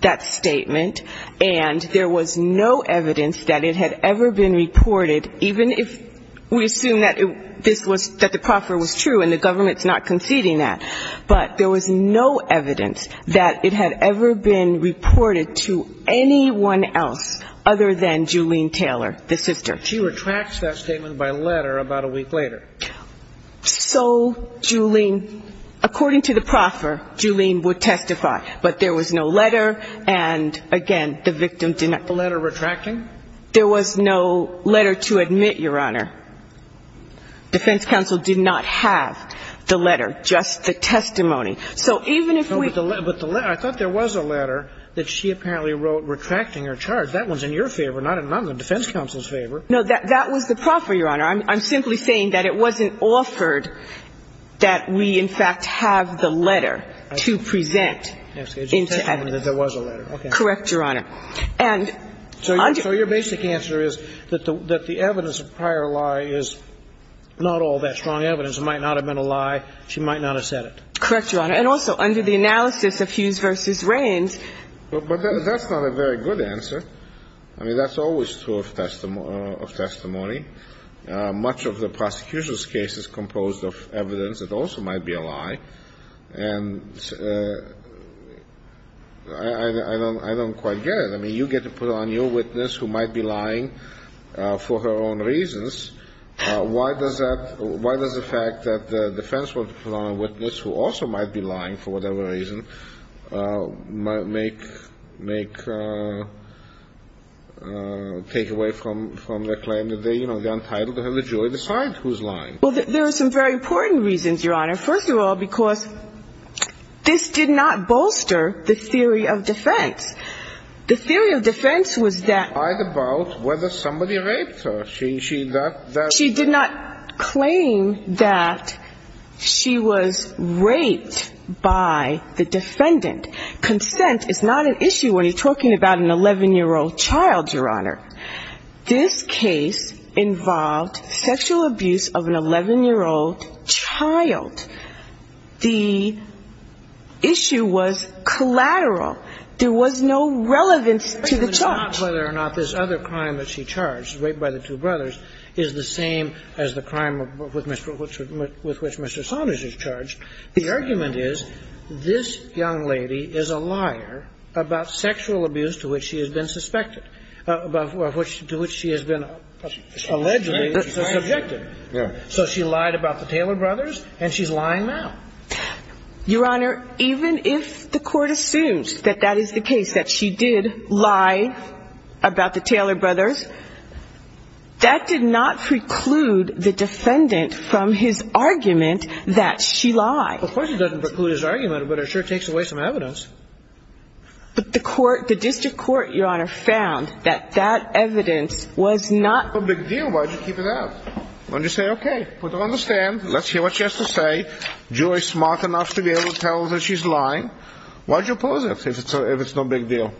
that statement, and there was no evidence that it had ever been reported, even if we assume that the proffer was true and the government's not conceding that. But there was no evidence that it had ever been reported to anyone else other than Julene Taylor, the sister. She retracts that statement by letter about a week later. So, Julene, according to the proffer, Julene would testify. But there was no letter, and, again, the victim did not. A letter retracting? There was no letter to admit, Your Honor. Defense counsel did not have the letter, just the testimony. So even if we ---- But the letter, I thought there was a letter that she apparently wrote retracting her charge. That one's in your favor, not in the defense counsel's favor. No, that was the proffer, Your Honor. I'm simply saying that it wasn't offered that we, in fact, have the letter to present into evidence. She testified that there was a letter. Correct, Your Honor. And under ---- So your basic answer is that the evidence of prior lie is not all that strong evidence. It might not have been a lie. She might not have said it. Correct, Your Honor. And also, under the analysis of Hughes v. Raines ---- But that's not a very good answer. I mean, that's always true of testimony. Much of the prosecution's case is composed of evidence that also might be a lie. And I don't quite get it. I mean, you get to put on your witness who might be lying for her own reasons. Why does that ---- Why does the fact that the defense wants to put on a witness who also might be lying for whatever reason make ---- Well, there are some very important reasons, Your Honor. First of all, because this did not bolster the theory of defense. The theory of defense was that ---- About whether somebody raped her. She did not ---- She did not claim that she was raped by the defendant. Consent is not an issue when you're talking about an 11-year-old child, Your Honor. This case involved sexual abuse of an 11-year-old child. The issue was collateral. There was no relevance to the charge. It's not whether or not this other crime that she charged, rape by the two brothers, is the same as the crime with which Mr. Saunders is charged. The argument is this young lady is a liar about sexual abuse to which she has been suspected, to which she has been allegedly subjected. So she lied about the Taylor brothers, and she's lying now. Your Honor, even if the Court assumes that that is the case, that she did lie about the Taylor brothers, that did not preclude the defendant from his argument that she lied. Of course it doesn't preclude his argument, but it sure takes away some evidence. But the court, the district court, Your Honor, found that that evidence was not ---- If it's no big deal, why did you keep it out? Why didn't you say, okay, we don't understand. Let's hear what she has to say. Julie's smart enough to be able to tell that she's lying. Why did you oppose it if it's no big deal?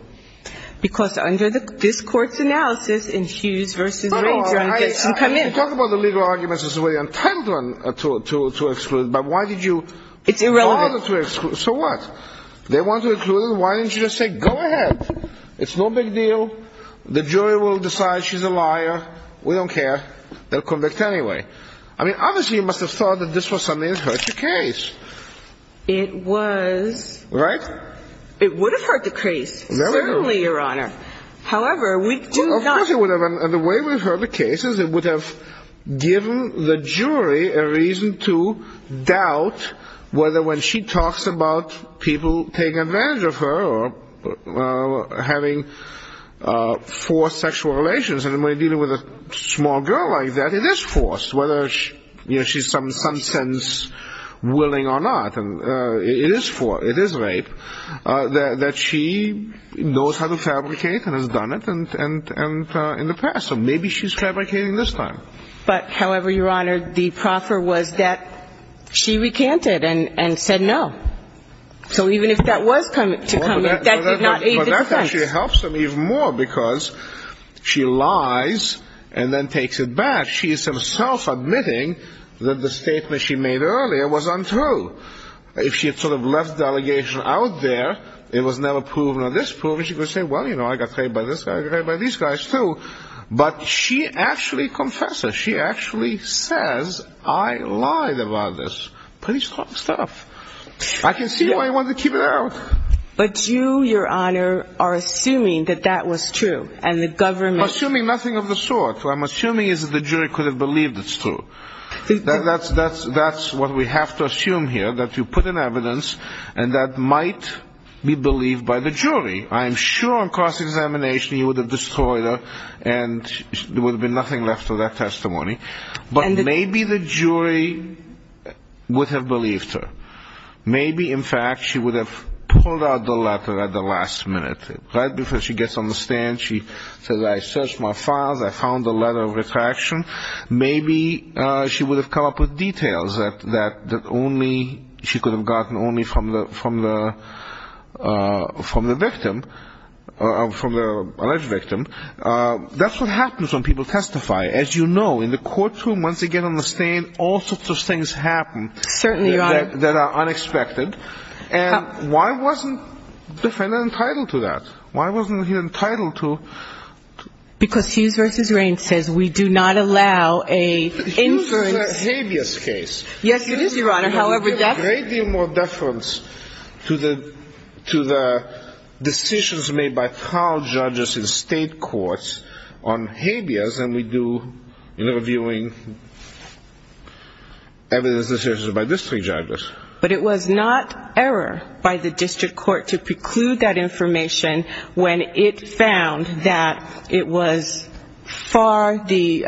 Because under this Court's analysis, in Hughes v. Rager, this should come in. You talk about the legal arguments as well. You're entitled to exclude. But why did you ---- It's irrelevant. So what? They want to exclude her. Why didn't you just say, go ahead. It's no big deal. The jury will decide she's a liar. We don't care. They'll convict anyway. I mean, obviously you must have thought that this was something that hurt your case. It was. Right? It would have hurt the case. Certainly, Your Honor. However, we do not ---- Of course it would have. And the way we've heard the case is it would have given the jury a reason to doubt whether when she talks about people taking advantage of her or having forced sexual relations. And when you're dealing with a small girl like that, it is forced, whether she's some sense willing or not. It is rape. That she knows how to fabricate and has done it in the past. So maybe she's fabricating this time. But, however, Your Honor, the proffer was that she recanted and said no. So even if that was to come in, that did not aid the defense. Well, that actually helps them even more because she lies and then takes it back. She is herself admitting that the statement she made earlier was untrue. If she had sort of left the allegation out there, it was never proven. Now, this proven, she could say, well, you know, I got raped by this guy, I got raped by these guys, too. But she actually confesses. She actually says, I lied about this. Pretty strong stuff. I can see why you wanted to keep it out. But you, Your Honor, are assuming that that was true and the government ---- I'm assuming nothing of the sort. What I'm assuming is that the jury could have believed it's true. That's what we have to assume here, that you put in evidence and that might be believed by the jury. I am sure on cross-examination you would have destroyed her and there would have been nothing left of that testimony. But maybe the jury would have believed her. Maybe, in fact, she would have pulled out the letter at the last minute. Right before she gets on the stand, she says, I searched my files, I found the letter of retraction. Maybe she would have come up with details that only she could have gotten only from the victim, from the alleged victim. That's what happens when people testify. As you know, in the courtroom, once they get on the stand, all sorts of things happen. Certainly, Your Honor. That are unexpected. And why wasn't the defendant entitled to that? Why wasn't he entitled to ---- Because Hughes v. Rain says we do not allow a inference. But Hughes is a habeas case. Yes, it is, Your Honor. However, that's ---- There's a great deal more deference to the decisions made by trial judges in state courts on habeas than we do in reviewing evidence decisions by district judges. But it was not error by the district court to preclude that information when it found that it was far the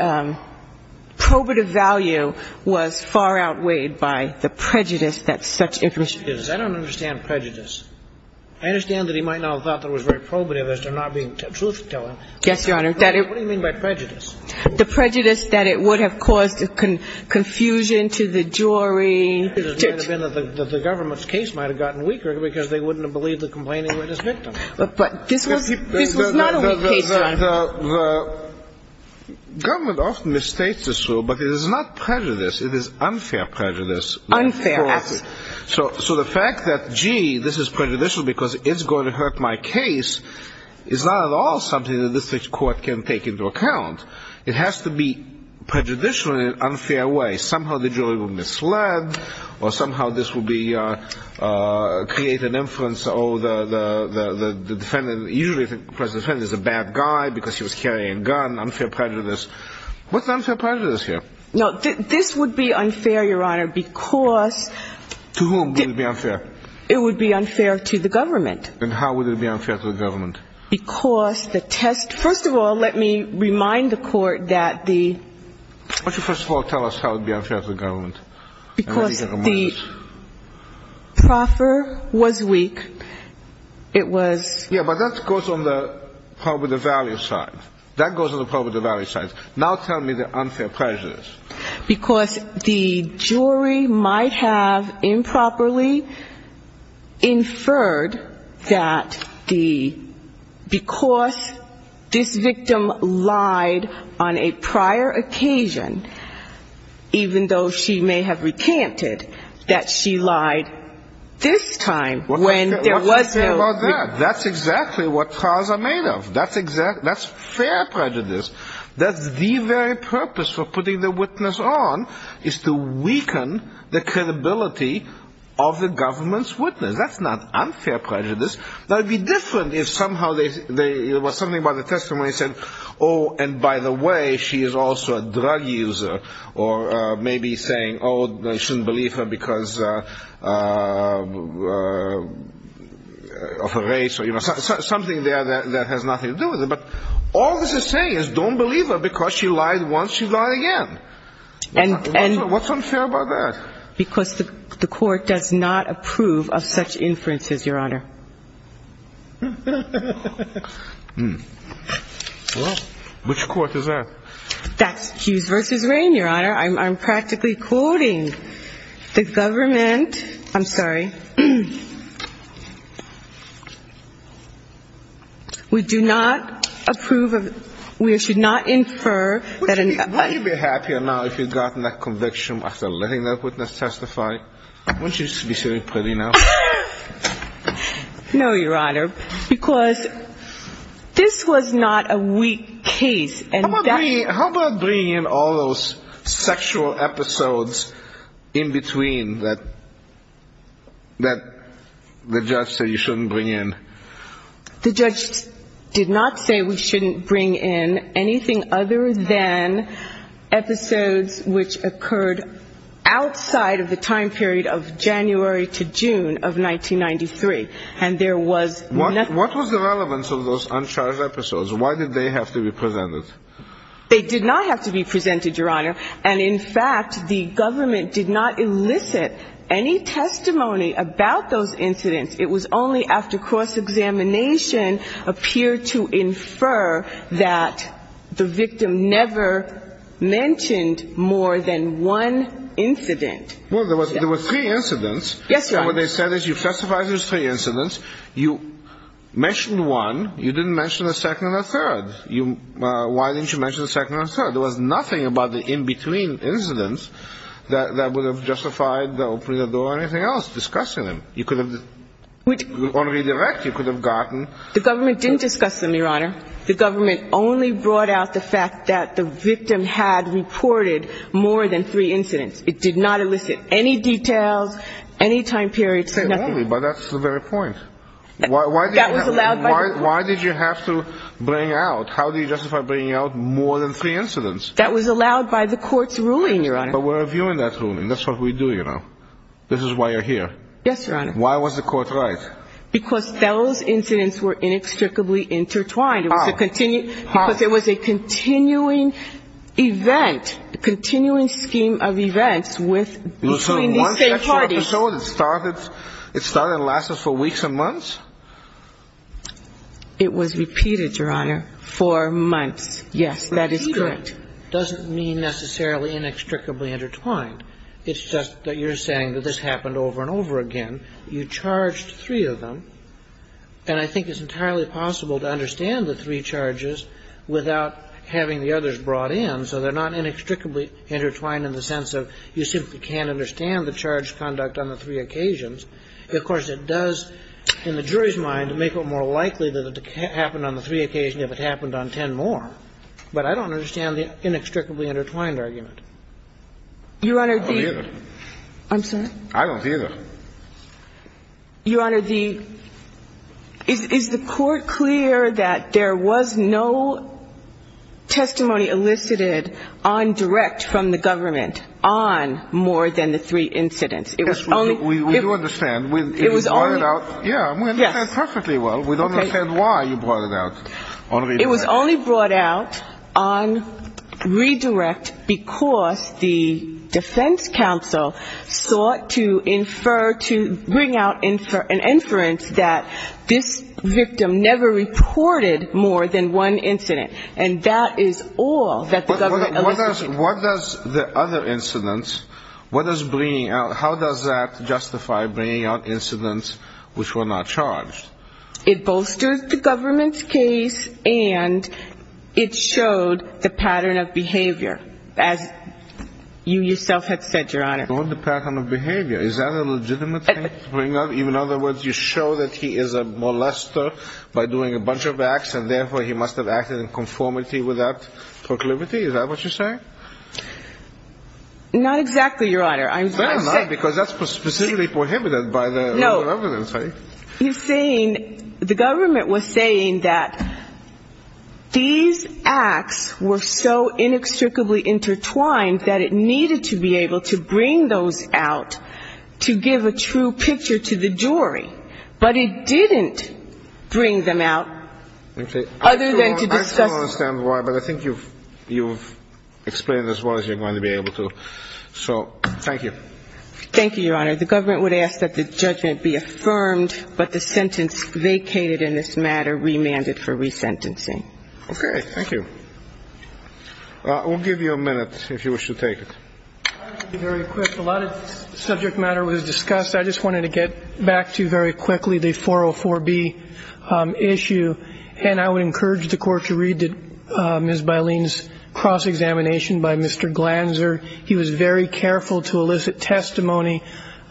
probative value was far outweighed by the prejudice that such information ---- I don't understand prejudice. I understand that he might not have thought it was very probative as to not being truth-telling. Yes, Your Honor. What do you mean by prejudice? The prejudice that it would have caused confusion to the jury. It might have been that the government's case might have gotten weaker because they wouldn't have believed the complaining witness victim. But this was not a weak case, Your Honor. The government often mistakes this rule, but it is not prejudice. It is unfair prejudice. Unfair, absolutely. So the fact that, gee, this is prejudicial because it's going to hurt my case is not at all something that the district court can take into account. It has to be prejudicial in an unfair way. Somehow the jury will mislead, or somehow this will create an inference, oh, the defendant usually thinks the defendant is a bad guy because he was carrying a gun. Unfair prejudice. What's unfair prejudice here? No, this would be unfair, Your Honor, because ---- To whom would it be unfair? It would be unfair to the government. And how would it be unfair to the government? Because the test ---- first of all, let me remind the court that the ---- Why don't you first of all tell us how it would be unfair to the government? Because the proffer was weak. It was ---- Yeah, but that goes on probably the value side. That goes on probably the value side. Now tell me the unfair prejudice. Because the jury might have improperly inferred that the ---- because this victim lied on a prior occasion, even though she may have recanted, that she lied this time when there was no ---- What's unfair about that? That's exactly what proffers are made of. That's fair prejudice. That's the very purpose of putting the witness on, is to weaken the credibility of the government's witness. That's not unfair prejudice. That would be different if somehow they ---- it was something about the testimony said, oh, and by the way, she is also a drug user. Or maybe saying, oh, they shouldn't believe her because of a race or, you know, something there that has nothing to do with it. But all this is saying is don't believe her because she lied once, she lied again. What's unfair about that? Because the court does not approve of such inferences, Your Honor. Which court is that? No, Your Honor, because this was not a weak case. How about bringing in all those sexual episodes in between that the judge said you shouldn't bring in? The judge did not say we shouldn't bring in anything other than episodes which occurred outside of the time period of January to June of 1993. What was the relevance of those uncharged episodes? Why did they have to be presented? They did not have to be presented, Your Honor. And in fact, the government did not elicit any testimony about those incidents. It was only after cross-examination appeared to infer that the victim never mentioned more than one incident. Yes, Your Honor. So what they said is you've testified there's three incidents. You mentioned one. You didn't mention a second and a third. Why didn't you mention a second and a third? There was nothing about the in-between incidents that would have justified the opening of the door or anything else, discussing them. You could have, on redirect, you could have gotten. The government didn't discuss them, Your Honor. The government only brought out the fact that the victim had reported more than three incidents. It did not elicit any details, any time periods, nothing. But that's the very point. Why did you have to bring out? How do you justify bringing out more than three incidents? That was allowed by the court's ruling, Your Honor. But we're reviewing that ruling. That's what we do, you know. This is why you're here. Yes, Your Honor. Why was the court right? Because those incidents were inextricably intertwined. How? Because it was a continuing event, a continuing scheme of events with between the same parties. It was one sexual episode? It started and lasted for weeks and months? It was repeated, Your Honor, for months. Yes, that is correct. Repeated doesn't mean necessarily inextricably intertwined. It's just that you're saying that this happened over and over again. You charged three of them. And I think it's entirely possible to understand the three charges without having the others brought in, so they're not inextricably intertwined in the sense of you simply can't understand the charge conduct on the three occasions. Of course, it does, in the jury's mind, make it more likely that it happened on the three occasions if it happened on ten more. But I don't understand the inextricably intertwined argument. I don't either. I'm sorry? I don't either. Your Honor, the – is the court clear that there was no testimony elicited on direct from the government on more than the three incidents? Yes, we do understand. It was only – Yeah, we understand perfectly well. We don't understand why you brought it out on redirect. Because the defense counsel sought to infer – to bring out an inference that this victim never reported more than one incident. And that is all that the government elicited. What does the other incidents, what does bringing out – how does that justify bringing out incidents which were not charged? It bolsters the government's case, and it showed the pattern of behavior, as you yourself had said, Your Honor. Showed the pattern of behavior. Is that a legitimate thing? In other words, you show that he is a molester by doing a bunch of acts, and therefore he must have acted in conformity with that proclivity? Is that what you're saying? Not exactly, Your Honor. Fair enough, because that's specifically prohibited by the legal evidence, right? No. He's saying – the government was saying that these acts were so inextricably intertwined that it needed to be able to bring those out to give a true picture to the jury. But it didn't bring them out other than to discuss – Okay. I still don't understand why, but I think you've explained as well as you're going to be able to. So thank you. Thank you, Your Honor. The government would ask that the judgment be affirmed, but the sentence vacated in this matter remanded for resentencing. Okay. Thank you. We'll give you a minute, if you wish to take it. I'll be very quick. A lot of subject matter was discussed. I just wanted to get back to, very quickly, the 404B issue, and I would encourage the Court to read Ms. Bileen's cross-examination by Mr. Glanzer. He was very careful to elicit testimony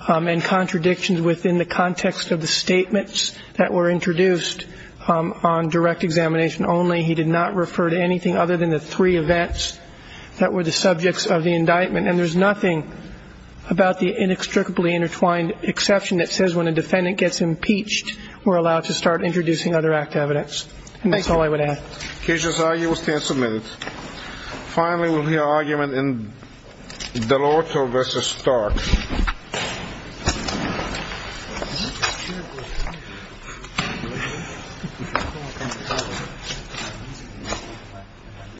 and contradictions within the context of the statements that were introduced on direct examination only. He did not refer to anything other than the three events that were the subjects of the indictment. And there's nothing about the inextricably intertwined exception that says when a defendant gets impeached, we're allowed to start introducing other act evidence. And that's all I would add. The case is argued. We'll stand some minutes. Finally, we'll hear argument in DeLorto v. Stark.